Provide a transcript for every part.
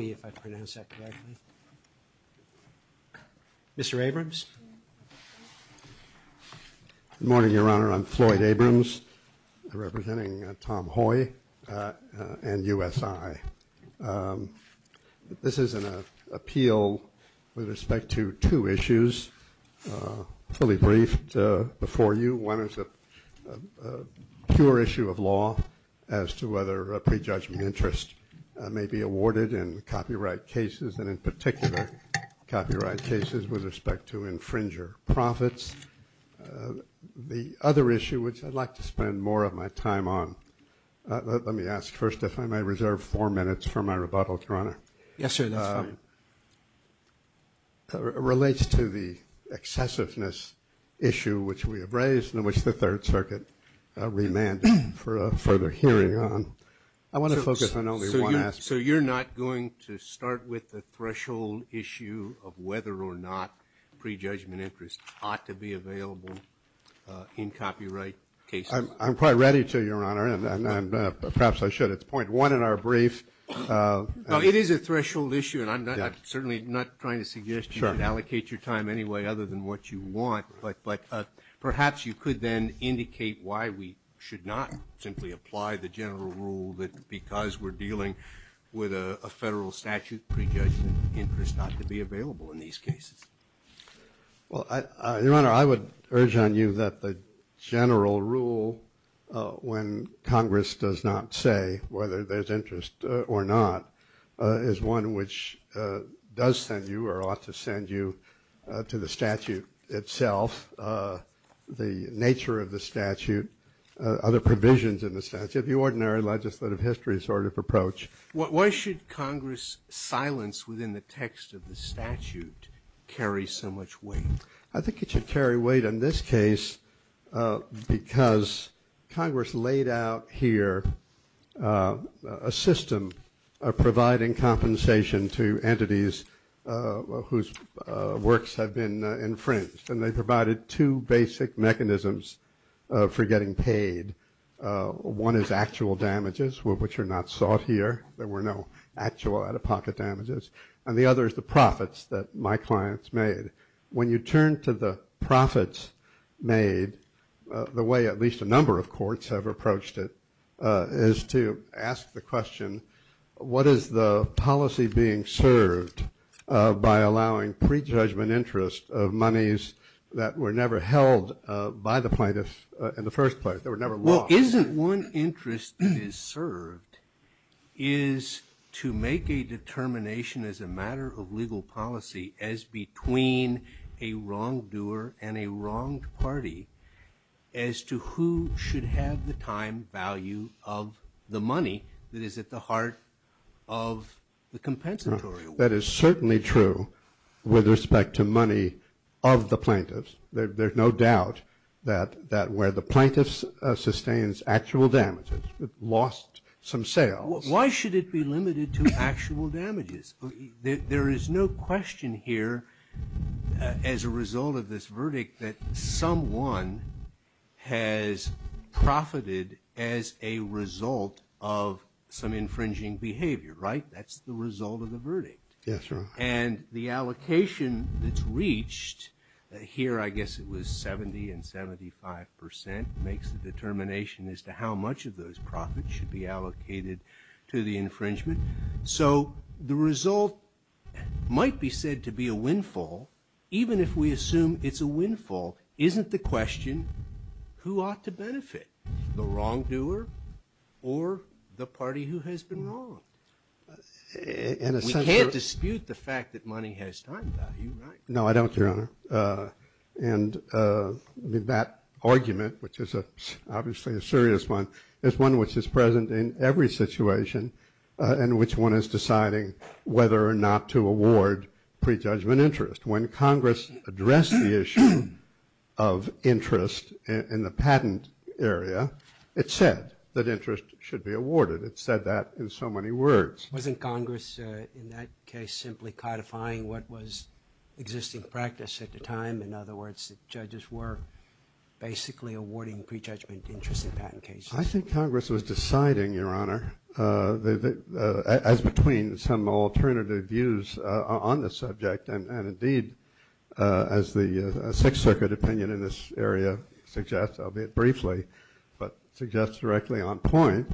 if I pronounce that correctly. Mr. Abrams. Good morning, Your Honor. I'm Floyd Abrams, representing Tom Hoy and USI. This is an appeal with respect to two issues fully briefed before you. One is a pure issue of law as to whether prejudgment interest may be awarded in copyright cases and in particular copyright cases with respect to infringer profits. The other issue which I'd like to spend more of my time on, let me ask first if I may reserve four minutes for my rebuttal, Your Honor. Yes, sir, that's fine. Relates to the excessiveness issue which we have raised in which the Third Circuit remanded for a further hearing on. I want to focus on only one aspect. So you're not going to start with the threshold issue of whether or not prejudgment interest ought to be available in copyright cases. I'm quite ready to, Your Honor, and perhaps I should. It's point one in our brief. No, it is a threshold issue and I'm certainly not trying to suggest you should allocate your time anyway other than what you want, but perhaps you could then indicate why we should not simply apply the general rule that because we're dealing with a Your Honor, I would urge on you that the general rule when Congress does not say whether there's interest or not is one which does send you or ought to send you to the statute itself, the nature of the statute, other provisions in the statute, the ordinary legislative history sort of I think it should carry weight in this case because Congress laid out here a system of providing compensation to entities whose works have been infringed, and they provided two basic mechanisms for getting paid. One is actual damages, which are not sought here. There were no out-of-pocket damages, and the other is the profits that my clients made. When you turn to the profits made, the way at least a number of courts have approached it is to ask the question, what is the policy being served by allowing prejudgment interest of monies that were never held by the plaintiffs in the first place? They were never lost. Well, isn't one interest that is served is to make a determination as a matter of legal policy as between a wrongdoer and a wronged party as to who should have the time value of the money that is at the heart of the compensatory? That is certainly true with respect to money of the plaintiffs. There's no doubt that where the plaintiffs sustains actual damages, lost some sales. Why should it be limited to actual damages? There is no question here as a result of this verdict that someone has profited as a result of some infringing behavior, right? That's the result of the verdict. Yes, sir. And the allocation that's reached here, I guess it was 70 and 75 percent, makes the determination as to how much of those profits should be allocated to the infringement. So the result might be said to be a windfall, even if we assume it's a windfall, isn't the question who ought to benefit, the wrongdoer or the party who has been wronged? We can't dispute the fact that money has time value, right? No, I don't, Your Honor. And that argument, which is obviously a serious one, is one which is present in every situation in which one is deciding whether or not to award prejudgment interest. When Congress addressed the issue of interest in the patent area, it said that interest should be awarded. It said that in so many words. Wasn't Congress in that case simply codifying what was existing practice at the time? In other words, the judges were basically awarding prejudgment interest in patent cases. I think Congress was deciding, Your Honor, as between some alternative views on the subject. And indeed, as the Sixth Circuit opinion in this area suggests, albeit briefly, but suggests directly on point,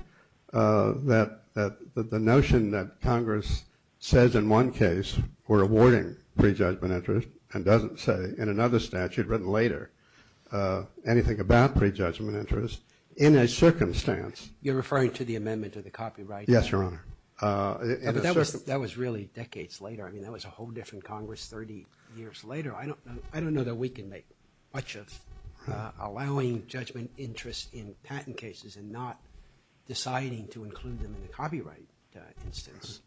that the notion that Congress says in one case we're awarding prejudgment interest and doesn't say in another statute written later anything about prejudgment interest in a circumstance. You're referring to the amendment to the copyright? Yes, Your Honor. But that was really decades later. I mean, that was a whole different Congress 30 years later. I don't know that we can make much of allowing judgment interest in patent cases and not deciding to include them in the copyright instance.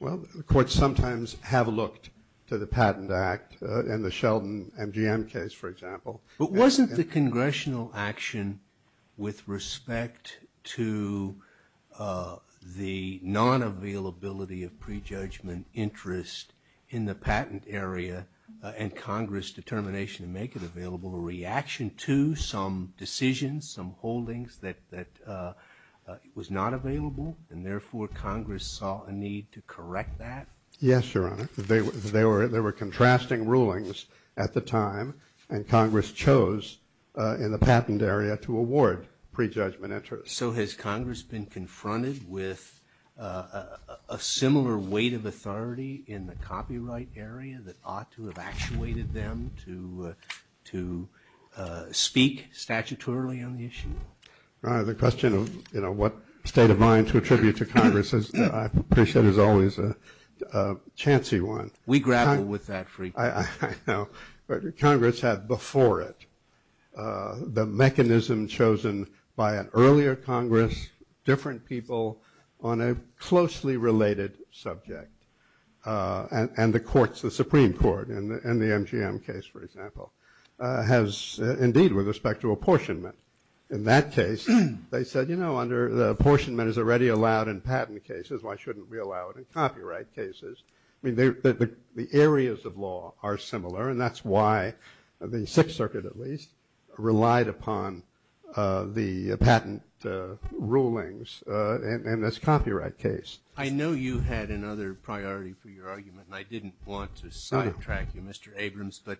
Well, the courts sometimes have looked to the Patent Act and the Sheldon MGM case, for example. But wasn't the congressional action with respect to the non-availability of prejudgment interest in the patent area and Congress' determination to make it available a reaction to some decisions, some holdings that was not available? And therefore, Congress saw a need to correct that? Yes, Your Honor. There were contrasting rulings at the time, and Congress chose in the patent area to award prejudgment interest. So has Congress been confronted with a similar weight of authority in the copyright area that ought to have actuated them to speak statutorily on the issue? The question of what state of mind to attribute to Congress, I appreciate, is always a fancy one. We grapple with that frequently. I know, but Congress had before it the mechanism chosen by an earlier Congress, different people on a closely related subject, and the courts, the Supreme Court in the MGM case, for example, has indeed with respect to apportionment. In that case, they said, you know, under the apportionment is already allowed in patent cases. Why shouldn't we allow it in copyright cases? I mean, the areas of law are similar, and that's why the Sixth Circuit, at least, relied upon the patent rulings in this copyright case. I know you had another priority for your argument, and I didn't want to sidetrack you, Mr. Abrams, but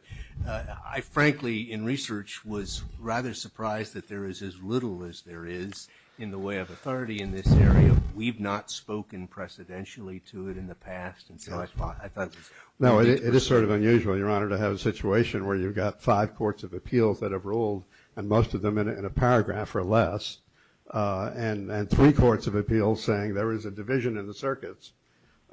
I frankly in research was rather surprised that there is as little as there is in the way of authority in this area. We've not spoken precedentially to it in the past, and so I thought... No, it is sort of unusual, Your Honor, to have a situation where you've got five courts of appeals that have ruled, and most of them in a paragraph or less, and three courts of appeals saying there is a division in the circuits,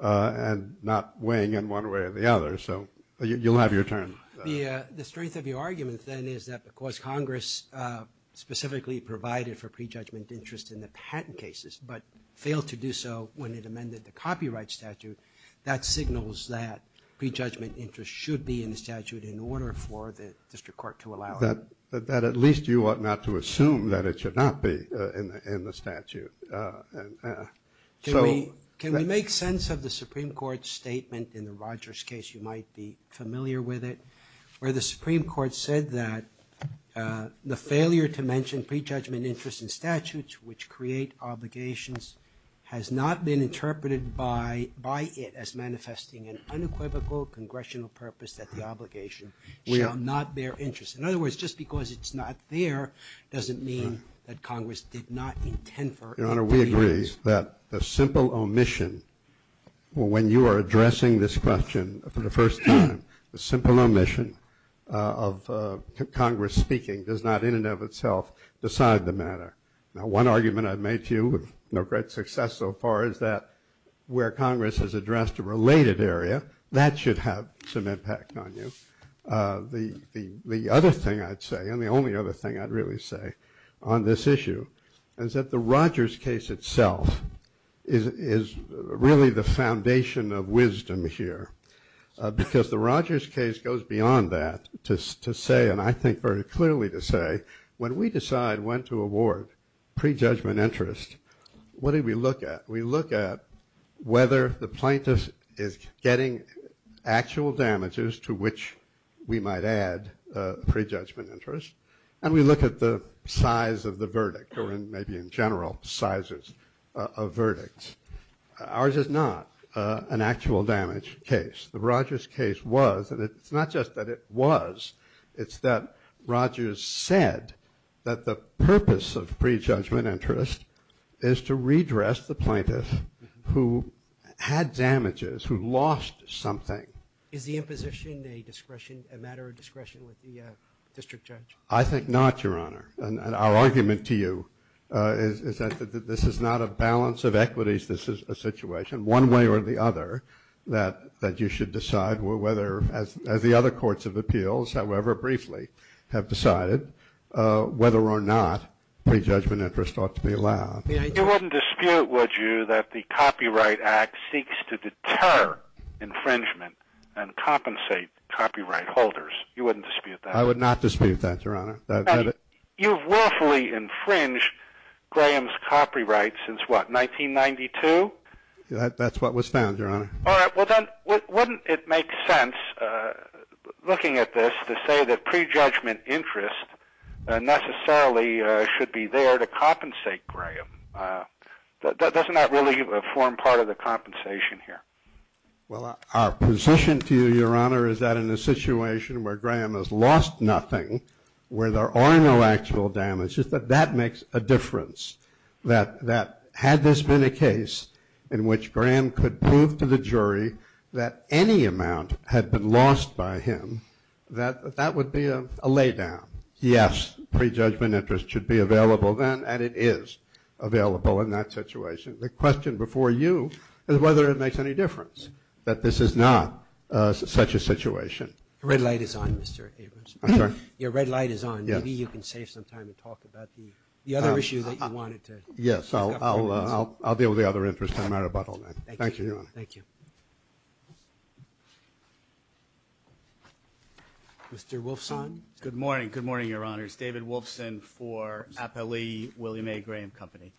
and not weighing in one way or the other, so you'll have your turn. The strength of your argument, then, is that because Congress specifically provided for failed to do so when it amended the copyright statute, that signals that prejudgment interest should be in the statute in order for the district court to allow it. That at least you ought not to assume that it should not be in the statute. Can we make sense of the Supreme Court's statement in the Rogers case, you might be familiar with it, where the Supreme Court said that the failure to mention prejudgment interest in statutes which create obligations has not been interpreted by it as manifesting an unequivocal congressional purpose that the obligation shall not bear interest. In other words, just because it's not there doesn't mean that Congress did not intend for it. Your Honor, we agree that the simple omission, when you are addressing this question for the first time, the simple omission of Congress speaking does not in and of itself decide the One argument I've made to you with no great success so far is that where Congress has addressed a related area, that should have some impact on you. The other thing I'd say, and the only other thing I'd really say on this issue, is that the Rogers case itself is really the foundation of wisdom here. Because the Rogers case goes beyond that to say, and I think very clearly to say, when we decide when to award prejudgment interest, what do we look at? We look at whether the plaintiff is getting actual damages to which we might add prejudgment interest, and we look at the size of the verdict, or maybe in general, sizes of verdicts. Ours is not an actual damage case. The Rogers case was, and it's not just that it was, it's that Rogers said that the purpose of prejudgment interest is to redress the plaintiff who had damages, who lost something. Is the imposition a matter of discretion with the district judge? I think not, Your Honor. And our argument to you is that this is not a balance of equities. This is a situation, one way or the other, that you should decide whether, as the other courts of appeals, however briefly, have decided, whether or not prejudgment interest ought to be allowed. You wouldn't dispute, would you, that the Copyright Act seeks to deter infringement and compensate copyright holders? You wouldn't dispute that? I would not dispute that, Your Honor. You've willfully infringed Graham's copyright since, what, 1992? That's what was found, Your Honor. All right. Well, then, wouldn't it make sense, looking at this, to say that prejudgment interest necessarily should be there to compensate Graham? Doesn't that really form part of the compensation here? Well, our position to you, Your Honor, is that in a situation where Graham has lost nothing, where there are no actual damages, that that makes a difference. That had this been a case in which Graham could prove to the jury that any amount had been lost by him, that that would be a laydown. Yes, prejudgment interest should be available then, and it is available in that situation. The question before you is whether it makes any difference that this is not such a situation. Your red light is on, Mr. Abrams. I'm sorry? Your red light is on. Maybe you can save some time and talk about the other issue that you wanted to discuss. Yes, I'll deal with the other interest. I don't matter about all that. Thank you, Your Honor. Thank you. Mr. Wolfson? Good morning. Good morning, Your Honors. David Wolfson for Appellee William A. Graham Company.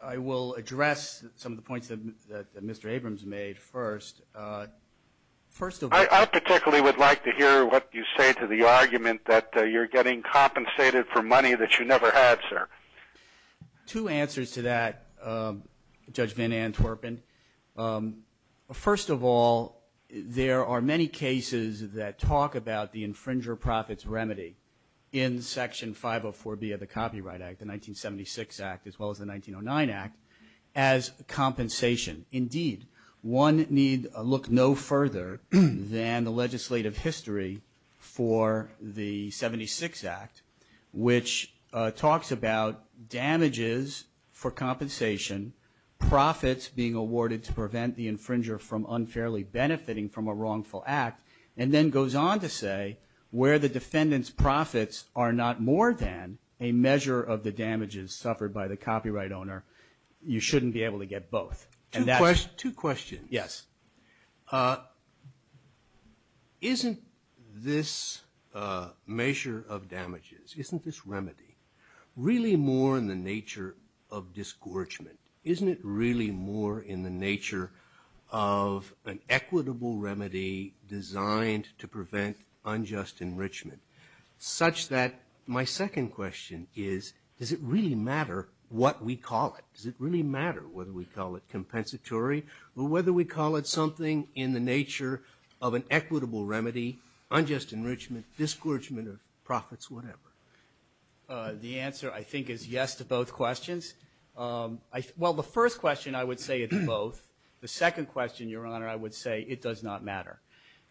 I will address some of the points that Mr. Abrams made first. I particularly would like to hear what you say to the argument that you're getting compensated for money that you never had, sir. Two answers to that, Judge Van Antwerpen. First of all, there are many cases that talk about the infringer profits remedy. In Section 504B of the Copyright Act, the 1976 Act, as well as the 1909 Act, as compensation. Indeed, one need look no further than the legislative history for the 76 Act, which talks about damages for compensation, profits being awarded to prevent the infringer from unfairly benefiting from a wrongful act, and then goes on to say where the defendant's are not more than a measure of the damages suffered by the copyright owner. You shouldn't be able to get both. Two questions. Yes. Isn't this measure of damages, isn't this remedy really more in the nature of disgorgement? Isn't it really more in the nature of an equitable remedy designed to prevent unjust enrichment? Such that my second question is, does it really matter what we call it? Does it really matter whether we call it compensatory or whether we call it something in the nature of an equitable remedy, unjust enrichment, disgorgement of profits, whatever? The answer, I think, is yes to both questions. Well, the first question, I would say it's both. The second question, Your Honor, I would say it does not matter.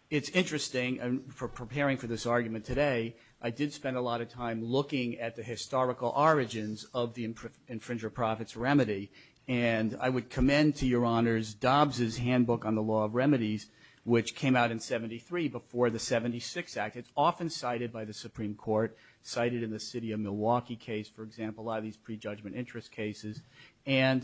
It's interesting, and for preparing for this argument today, I did spend a lot of time looking at the historical origins of the infringer of profits remedy. And I would commend to Your Honors Dobbs's Handbook on the Law of Remedies, which came out in 73 before the 76 Act. It's often cited by the Supreme Court, cited in the city of Milwaukee case, for example, a lot of these prejudgment interest cases. And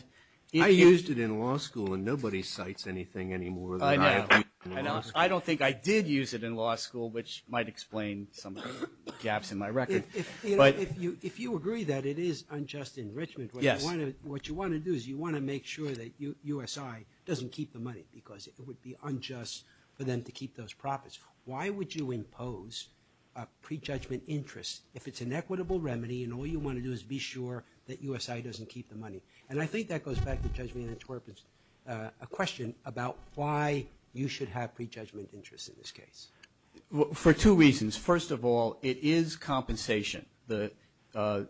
if you- I used it in law school and nobody cites anything any more than I have in law school. I don't think I did use it in law school, which might explain some of the gaps in my record. If you agree that it is unjust enrichment, what you want to do is you want to make sure that USI doesn't keep the money because it would be unjust for them to keep those profits. Why would you impose a prejudgment interest if it's an equitable remedy and all you want to do is be sure that USI doesn't keep the money? And I think that goes back to Judge Meenan-Twerp's question about why you should have prejudgment interest in this case. For two reasons. First of all, it is compensation.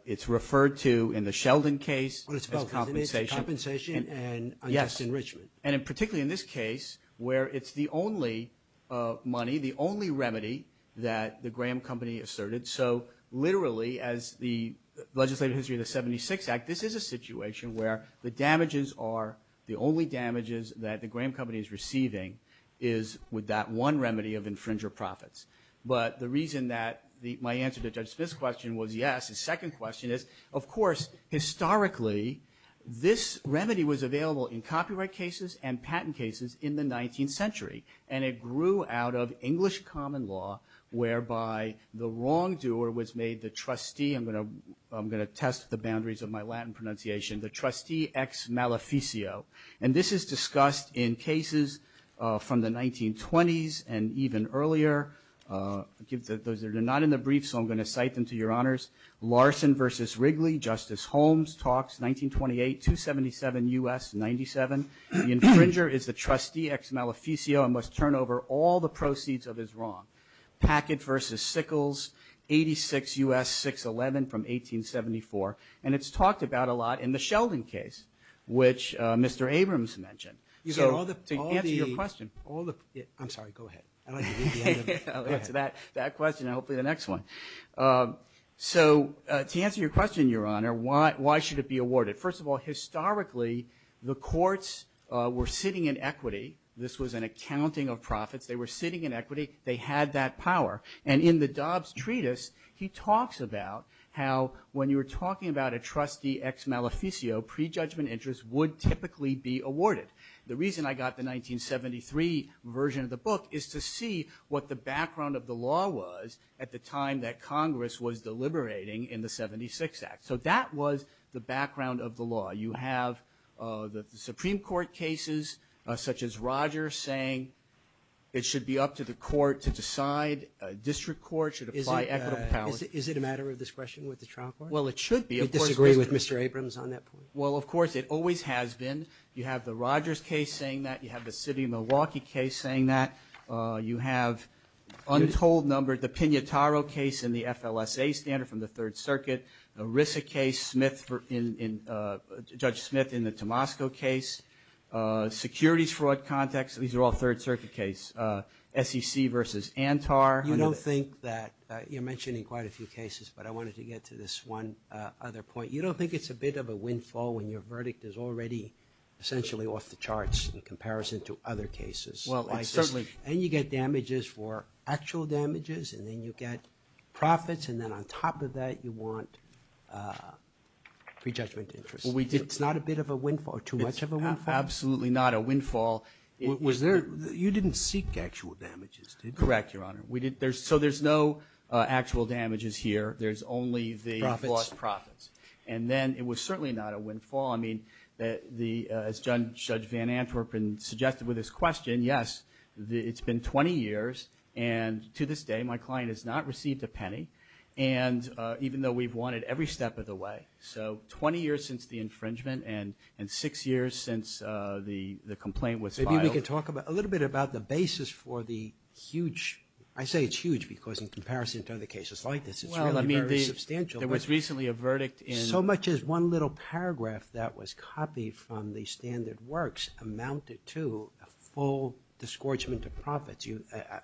It's referred to in the Sheldon case as compensation. Compensation and unjust enrichment. And particularly in this case, where it's the only money, the only remedy that the Graham Company asserted. So literally, as the legislative history of the 76 Act, this is a situation where the damages are the only damages that the Graham Company is receiving is with that one remedy of infringer profits. But the reason that my answer to Judge Smith's question was yes, his second question is, of course, historically, this remedy was available in copyright cases and patent cases in the 19th century. And it grew out of English common law, whereby the wrongdoer was made the trustee. I'm going to test the boundaries of my Latin pronunciation. The trustee ex maleficio. And this is discussed in cases from the 1920s and even earlier. Those that are not in the brief, so I'm going to cite them to your honors. Larson versus Wrigley, Justice Holmes talks, 1928, 277 U.S., 97. The infringer is the trustee ex maleficio. I must turn over all the proceeds of his wrong. Packett versus Sickles, 86 U.S., 611 from 1874. And it's talked about a lot in the Sheldon case, which Mr. Abrams mentioned. So to answer your question, all the, I'm sorry, go ahead. I'd like to move to that question and hopefully the next one. So to answer your question, Your Honor, why should it be awarded? First of all, historically, the courts were sitting in equity. This was an accounting of profits. They were sitting in equity. They had that power. And in the Dobbs treatise, he talks about how when you were talking about a trustee ex maleficio, prejudgment interest would typically be awarded. The reason I got the 1973 version of the book is to see what the background of the law was at the time that Congress was deliberating in the 76 Act. So that was the background of the law. You have the Supreme Court cases such as Rogers saying it should be up to the court to decide. District courts should apply equitable power. Is it a matter of discretion with the trial court? Well, it should be. Do you disagree with Mr. Abrams on that point? Well, of course, it always has been. You have the Rogers case saying that. You have the city of Milwaukee case saying that. You have untold number, the Pignataro case in the FLSA standard from the Third Circuit. The Risa case, Judge Smith in the Tomasco case. Securities fraud context, these are all Third Circuit case. SEC versus Antar. You don't think that, you're mentioning quite a few cases, but I wanted to get to this one other point. You don't think it's a bit of a windfall when your verdict is already essentially off the charts in comparison to other cases? Well, certainly. And you get damages for actual damages, and then you get profits. And then on top of that, you want prejudgment interest. It's not a bit of a windfall, too much of a windfall? Absolutely not a windfall. You didn't seek actual damages, did you? Correct, Your Honor. So there's no actual damages here. There's only the lost profits. And then it was certainly not a windfall. I mean, as Judge Van Antwerpen suggested with his question, yes, it's been 20 years. And to this day, my client has not received a penny. And even though we've won it every step of the way, so 20 years since the infringement and six years since the complaint was filed. Maybe we could talk a little bit about the basis for the huge, I say it's huge because in comparison to other cases like this, it's really very substantial. There was recently a verdict in- So much as one little paragraph that was copied from the standard works amounted to a full disgorgement of profits.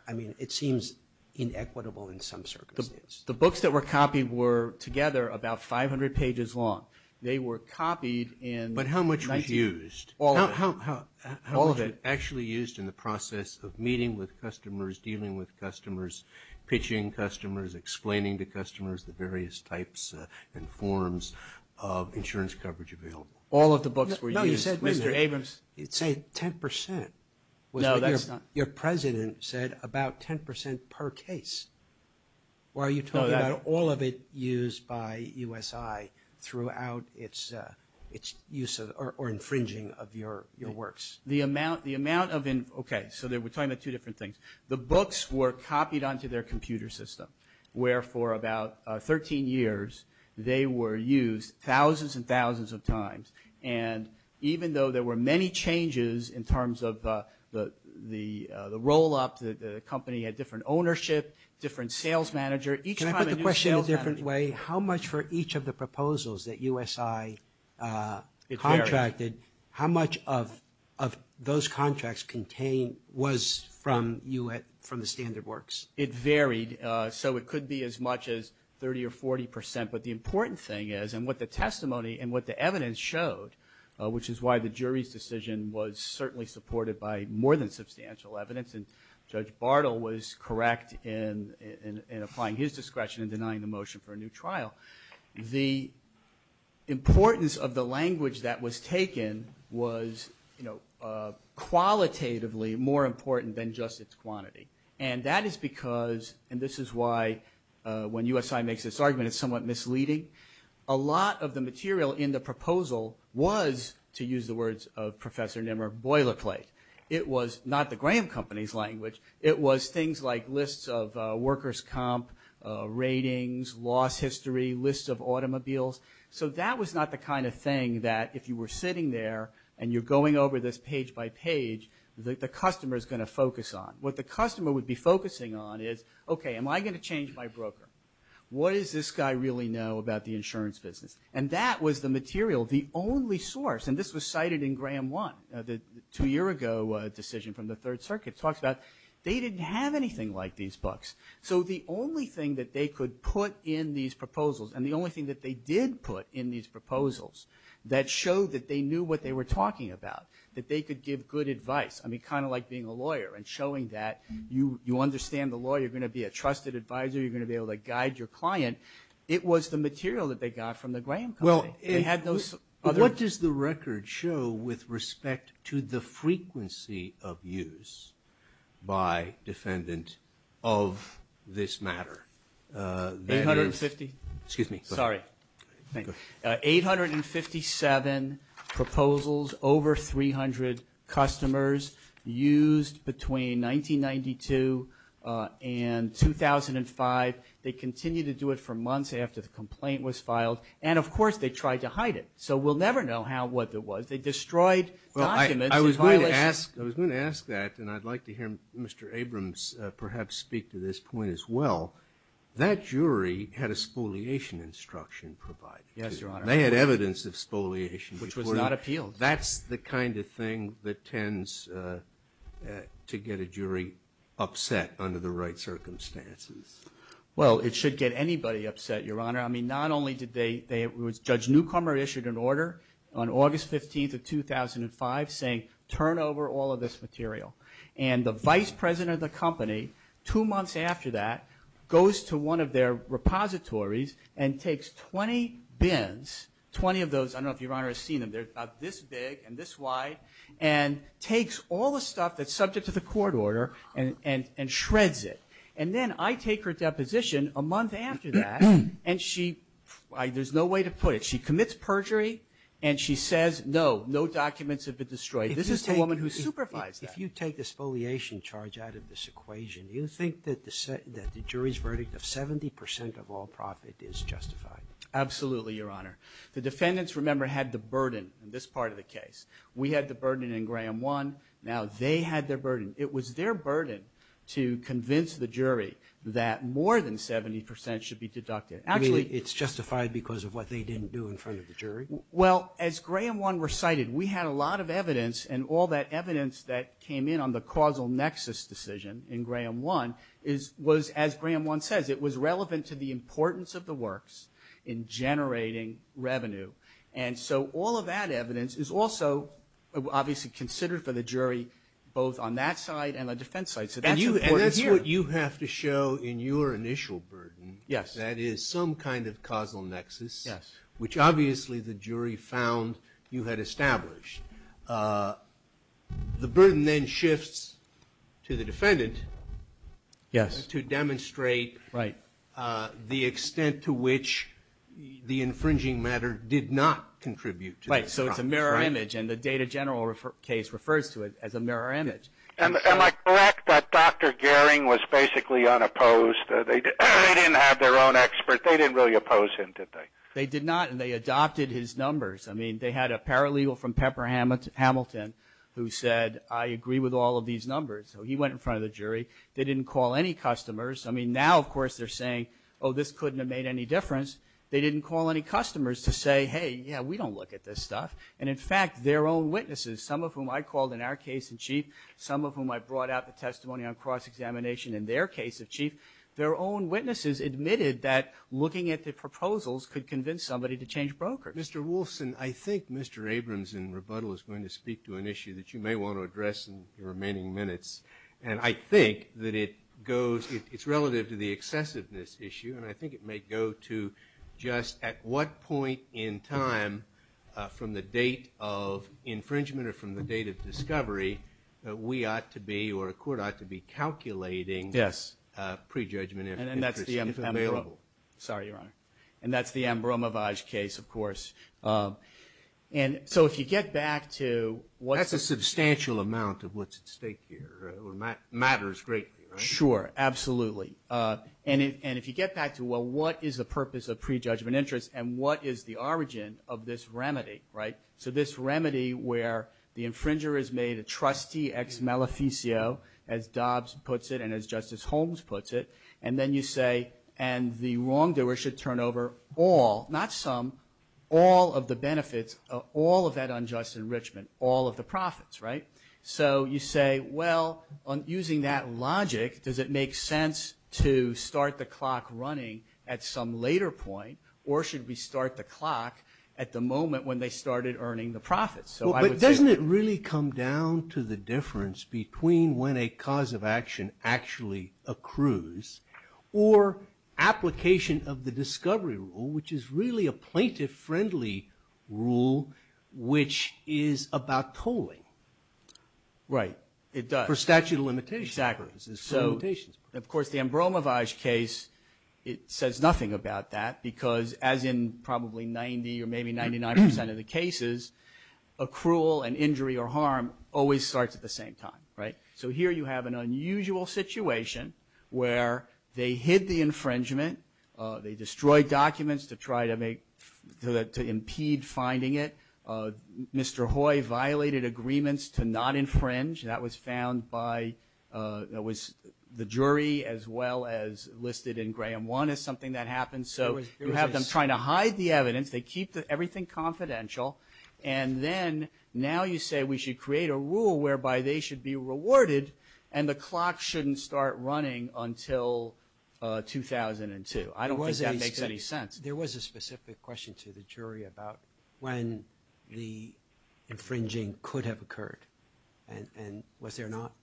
I mean, it seems inequitable in some circumstances. The books that were copied were together about 500 pages long. They were copied in- But how much was used? All of it. Actually used in the process of meeting with customers, dealing with customers, pitching customers, explaining to customers the various types and forms of insurance coverage available. All of the books were used. No, you said, Mr. Abrams, you'd say 10%. Your president said about 10% per case. Or are you talking about all of it used by USI throughout its use or infringing of your works? The amount of- Okay, so we're talking about two different things. The books were copied onto their computer system, where for about 13 years, they were used thousands and thousands of times. And even though there were many changes in terms of the roll-up, the company had different ownership, different sales manager. Can I put the question a different way? How much for each of the proposals that USI contracted, how much of those contracts contained was from the standard works? It varied. So it could be as much as 30 or 40%. But the important thing is, and what the testimony and what the evidence showed, which is why the jury's decision was certainly supported by more than substantial evidence, and Judge Bartle was correct in applying his discretion in denying the motion for a new trial, the importance of the language that was taken was qualitatively more important than just its quantity. And that is because, and this is why when USI makes this argument, it's somewhat misleading. A lot of the material in the proposal was, to use the words of Professor Nimmer, boilerplate. It was not the Graham Company's language. It was things like lists of workers' comp, ratings, loss history, lists of automobiles. So that was not the kind of thing that if you were sitting there and you're going over this page by page, the customer's going to focus on. What the customer would be focusing on is, OK, am I going to change my broker? What does this guy really know about the insurance business? And that was the material, the only source. And this was cited in Graham 1, the two-year-ago decision from the Third Circuit, talks about they didn't have anything like these books. So the only thing that they could put in these proposals, and the only thing that they did put in these proposals that showed that they knew what they were talking about, that they could give good advice. I mean, kind of like being a lawyer and showing that you understand the law, you're going to be a trusted advisor, you're going to be able to guide your client. It was the material that they got from the Graham Company. They had those other- Well, what does the record show with respect to the frequency of use by defendant of this matter? 850- Excuse me. Sorry. Thank you. 857 proposals, over 300 customers used between 1992 and 2005. They continued to do it for months after the complaint was filed. And of course, they tried to hide it. So we'll never know how, what it was. They destroyed documents in violation- Well, I was going to ask that, and I'd like to hear Mr. Abrams perhaps speak to this point as well. That jury had a spoliation instruction provided. Yes, Your Honor. They had evidence of spoliation. Which was not appealed. That's the kind of thing that tends to get a jury upset under the right circumstances. Well, it should get anybody upset, Your Honor. I mean, not only did they, Judge Newcomer issued an order on August 15th of 2005 saying, turn over all of this material. And the vice president of the company, two months after that, goes to one of their repositories and takes 20 bins, 20 of those, I don't know if Your Honor has seen them, they're about this big and this wide, and takes all the stuff that's subject to the court order and shreds it. And then I take her deposition a month after that, and she, there's no way to put it. She commits perjury, and she says, no, no documents have been destroyed. This is the woman who supervised that. If you take the spoliation charge out of this equation, do you think that the jury's verdict of 70% of all profit is justified? Absolutely, Your Honor. The defendants, remember, had the burden in this part of the case. We had the burden in Graham 1. Now they had their burden. It was their burden to convince the jury that more than 70% should be deducted. I mean, it's justified because of what they didn't do in front of the jury? Well, as Graham 1 recited, we had a lot of evidence, and all that evidence that came in on the causal nexus decision in Graham 1 was, as Graham 1 says, it was relevant to the importance of the works in generating revenue. And so all of that evidence is also obviously considered for the jury both on that side and the defense side. So that's important here. And that's what you have to show in your initial burden. Yes. That is some kind of causal nexus, which obviously the jury found you had established. The burden then shifts to the defendant to demonstrate the extent to which the infringing matter did not contribute to this. Right. So it's a mirror image, and the Data General case refers to it as a mirror image. Am I correct that Dr. Gehring was basically unopposed? They didn't have their own expert. They didn't really oppose him, did they? They did not, and they adopted his numbers. I mean, they had a paralegal from Pepper Hamilton who said, I agree with all of these numbers. So he went in front of the jury. They didn't call any customers. I mean, now, of course, they're saying, oh, this couldn't have made any difference. They didn't call any customers to say, hey, yeah, we don't look at this stuff. And in fact, their own witnesses, some of whom I called in our case in chief, some of whom I brought out the testimony on cross-examination in their case of chief, their own witnesses admitted that looking at the proposals could convince somebody to change brokers. Mr. Wolfson, I think Mr. Abrams in rebuttal is going to speak to an issue that you may want to address in the remaining minutes, and I think that it goes, it's relative to the excessiveness issue, and I think it may go to just at what point in time from the date of infringement or from the date of discovery that we ought to be, or a court ought to be, calculating prejudgment interest, if available. Sorry, Your Honor. And that's the Ambromavage case, of course. And so if you get back to what's the... That's a substantial amount of what's at stake here, or matters greatly, right? Sure, absolutely. And if you get back to, well, what is the purpose of prejudgment interest, and what is the origin of this remedy, right? So this remedy where the infringer is made a trustee ex maleficio, as Dobbs puts it and as Justice Holmes puts it, and then you say, and the wrongdoer should turn over all, not some, all of the benefits, all of that unjust enrichment, all of the profits, right? So you say, well, on using that logic, does it make sense to start the clock running at some later point, or should we start the clock at the moment when they started earning the profits? So I would say... But doesn't it really come down to the difference between when a cause of action actually accrues, or application of the discovery rule, which is really a plaintiff-friendly rule, which is about tolling? Right. It does. For statute of limitations. Exactly. For limitations. Of course, the Ambromavage case, it says nothing about that, because as in probably 90 or maybe 99% of the cases, accrual and injury or harm always starts at the same time, right? So here you have an unusual situation where they hid the infringement, they destroyed documents to try to make, to impede finding it, Mr. Hoy violated agreements to not infringe, that was found by, that was the jury as well as listed in Graham 1 as something that happened, so you have them trying to hide the evidence, they keep everything confidential, and then now you say we should create a rule whereby they should be rewarded, and the clock shouldn't start running until 2002. I don't think that makes any sense. There was a specific question to the jury about when the infringing could have occurred, and was there not?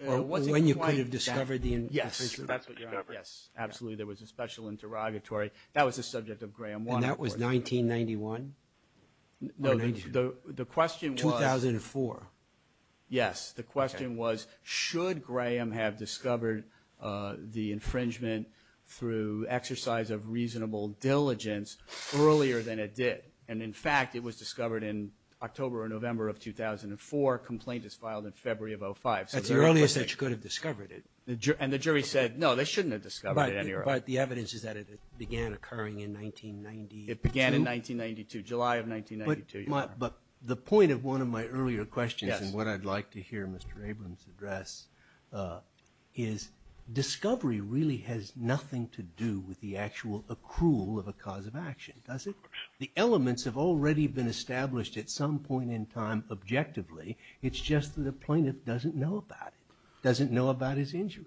It wasn't quite that. When you could have discovered the infringement. Yes, that's what you're talking about, yes, absolutely, there was a special interrogatory, that was the subject of Graham 1, of course. And that was 1991? No, the question was... 2004? Yes, the question was, should Graham have discovered the infringement through exercise of reasonable diligence earlier than it did, and in fact it was discovered in October or February of 2005. That's the earliest that you could have discovered it. And the jury said, no, they shouldn't have discovered it any earlier. But the evidence is that it began occurring in 1992? It began in 1992, July of 1992. But the point of one of my earlier questions, and what I'd like to hear Mr. Abrams address, is discovery really has nothing to do with the actual accrual of a cause of action, does it? The elements have already been established at some point in time objectively, it's just that the plaintiff doesn't know about it, doesn't know about his injury.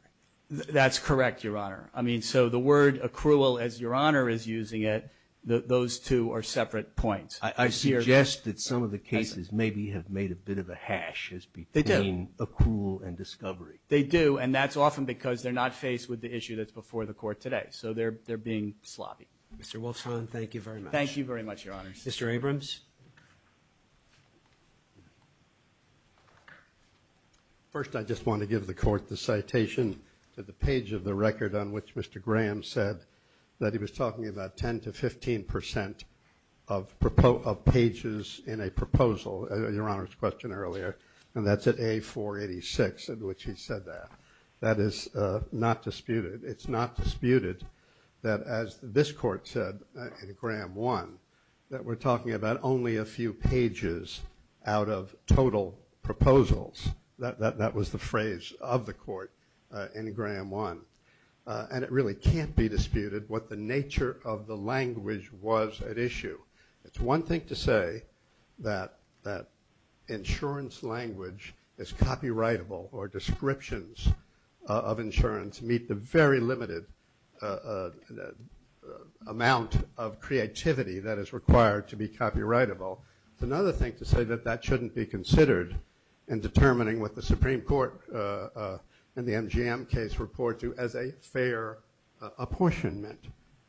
That's correct, Your Honor. I mean, so the word accrual, as Your Honor is using it, those two are separate points. I suggest that some of the cases maybe have made a bit of a hash between accrual and discovery. They do, and that's often because they're not faced with the issue that's before the Court today. So they're being sloppy. Mr. Wolfson, thank you very much. Thank you very much, Your Honor. Mr. Abrams? First, I just want to give the Court the citation to the page of the record on which Mr. Graham said that he was talking about 10 to 15 percent of pages in a proposal, Your Honor's question earlier, and that's at A486 in which he said that. That is not disputed. It's not disputed that, as this Court said in Graham 1, that we're talking about only a few pages out of total proposals. That was the phrase of the Court in Graham 1, and it really can't be disputed what the nature of the language was at issue. It's one thing to say that insurance language is copyrightable or descriptions of insurance meet the very limited amount of creativity that is required to be copyrightable. It's another thing to say that that shouldn't be considered in determining what the Supreme Court in the MGM case reports to as a fair apportionment.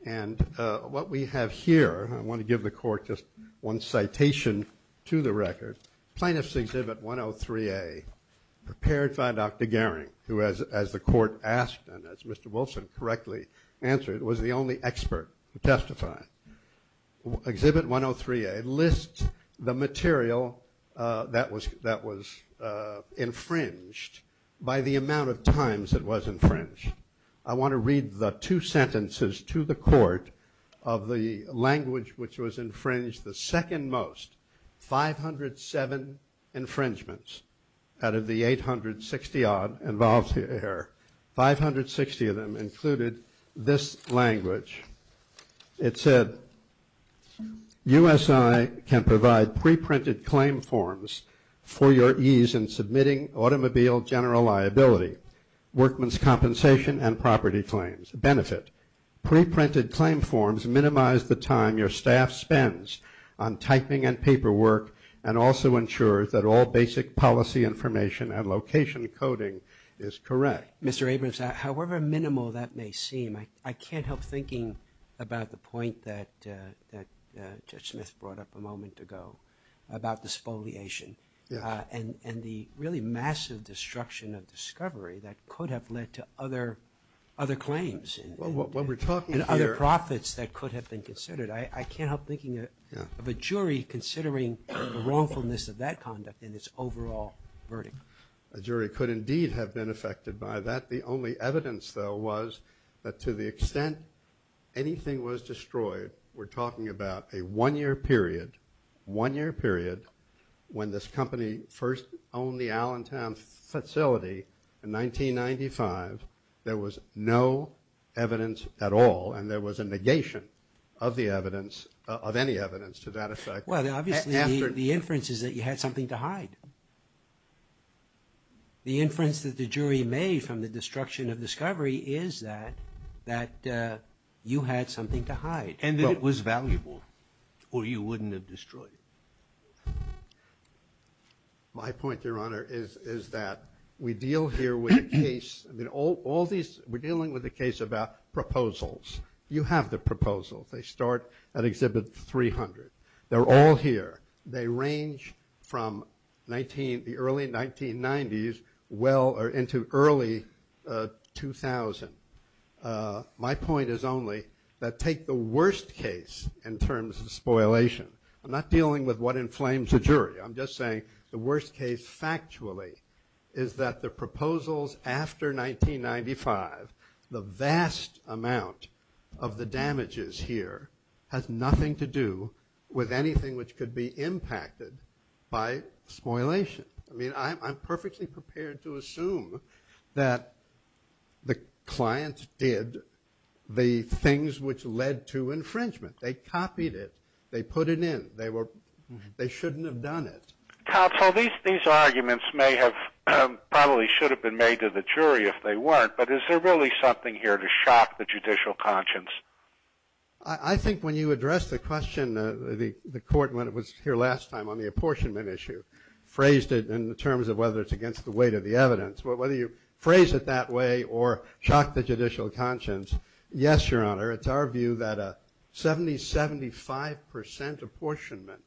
And what we have here, I want to give the Court just one citation to the record. Plaintiffs' Exhibit 103A, prepared by Dr. Goering, who, as the Court asked and as Mr. Wilson correctly answered, was the only expert to testify. Exhibit 103A lists the material that was infringed by the amount of times it was infringed. I want to read the two sentences to the Court of the language which was infringed the second most, 507 infringements out of the 860-odd involved here, 560 of them included this language. It said, U.S.I. can provide pre-printed claim forms for your ease in submitting automobile general liability, workman's compensation, and property claims. Benefit, pre-printed claim forms minimize the time your staff spends on typing and paperwork and also ensures that all basic policy information and location coding is correct. Mr. Abrams, however minimal that may seem, I can't help thinking about the point that Judge Smith brought up a moment ago about the spoliation and the really massive destruction of discovery that could have led to other claims and other profits that could have been considered. I can't help thinking of a jury considering the wrongfulness of that conduct in its overall verdict. A jury could indeed have been affected by that. The only evidence though was that to the extent anything was destroyed, we're talking about a one-year period, one-year period when this company first owned the Allentown facility in 1995. There was no evidence at all and there was a negation of the evidence, of any evidence to that effect. Well, obviously the inference is that you had something to hide. The inference that the jury made from the destruction of discovery is that you had something to hide. And that it was valuable or you wouldn't have destroyed it. My point, Your Honor, is that we deal here with a case, we're dealing with a case about proposals. You have the proposals. They start at Exhibit 300. They're all here. They range from the early 1990s into early 2000. And my point is only that take the worst case in terms of spoilation, I'm not dealing with what inflames the jury, I'm just saying the worst case factually is that the proposals after 1995, the vast amount of the damages here has nothing to do with anything which could be impacted by spoilation. I mean, I'm perfectly prepared to assume that the client did the things which led to infringement. They copied it. They put it in. They were, they shouldn't have done it. Counsel, these arguments may have, probably should have been made to the jury if they weren't, but is there really something here to shock the judicial conscience? I think when you address the question, the court when it was here last time on the apportionment issue, phrased it in terms of whether it's against the weight of the evidence, whether you phrase it that way or shock the judicial conscience, yes, Your Honor, it's our view that a 70-75% apportionment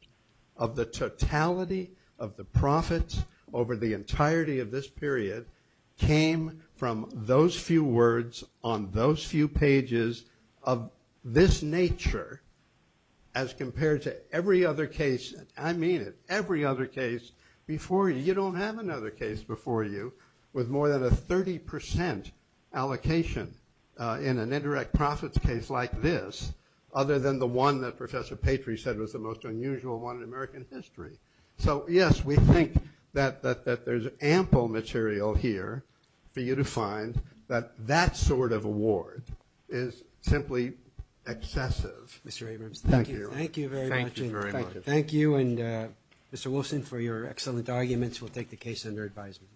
of the totality of the profits over the entirety of this period came from those few words on those few pages of this nature as compared to every other case before you. You don't have another case before you with more than a 30% allocation in an indirect profits case like this other than the one that Professor Patry said was the most unusual one in American history. So yes, we think that there's ample material here for you to find that that sort of award is simply excessive. Mr. Abrams, thank you. Thank you very much. Thank you. Thank you. Thank you. And Mr. Wilson, for your excellent arguments, we'll take the case under advisement.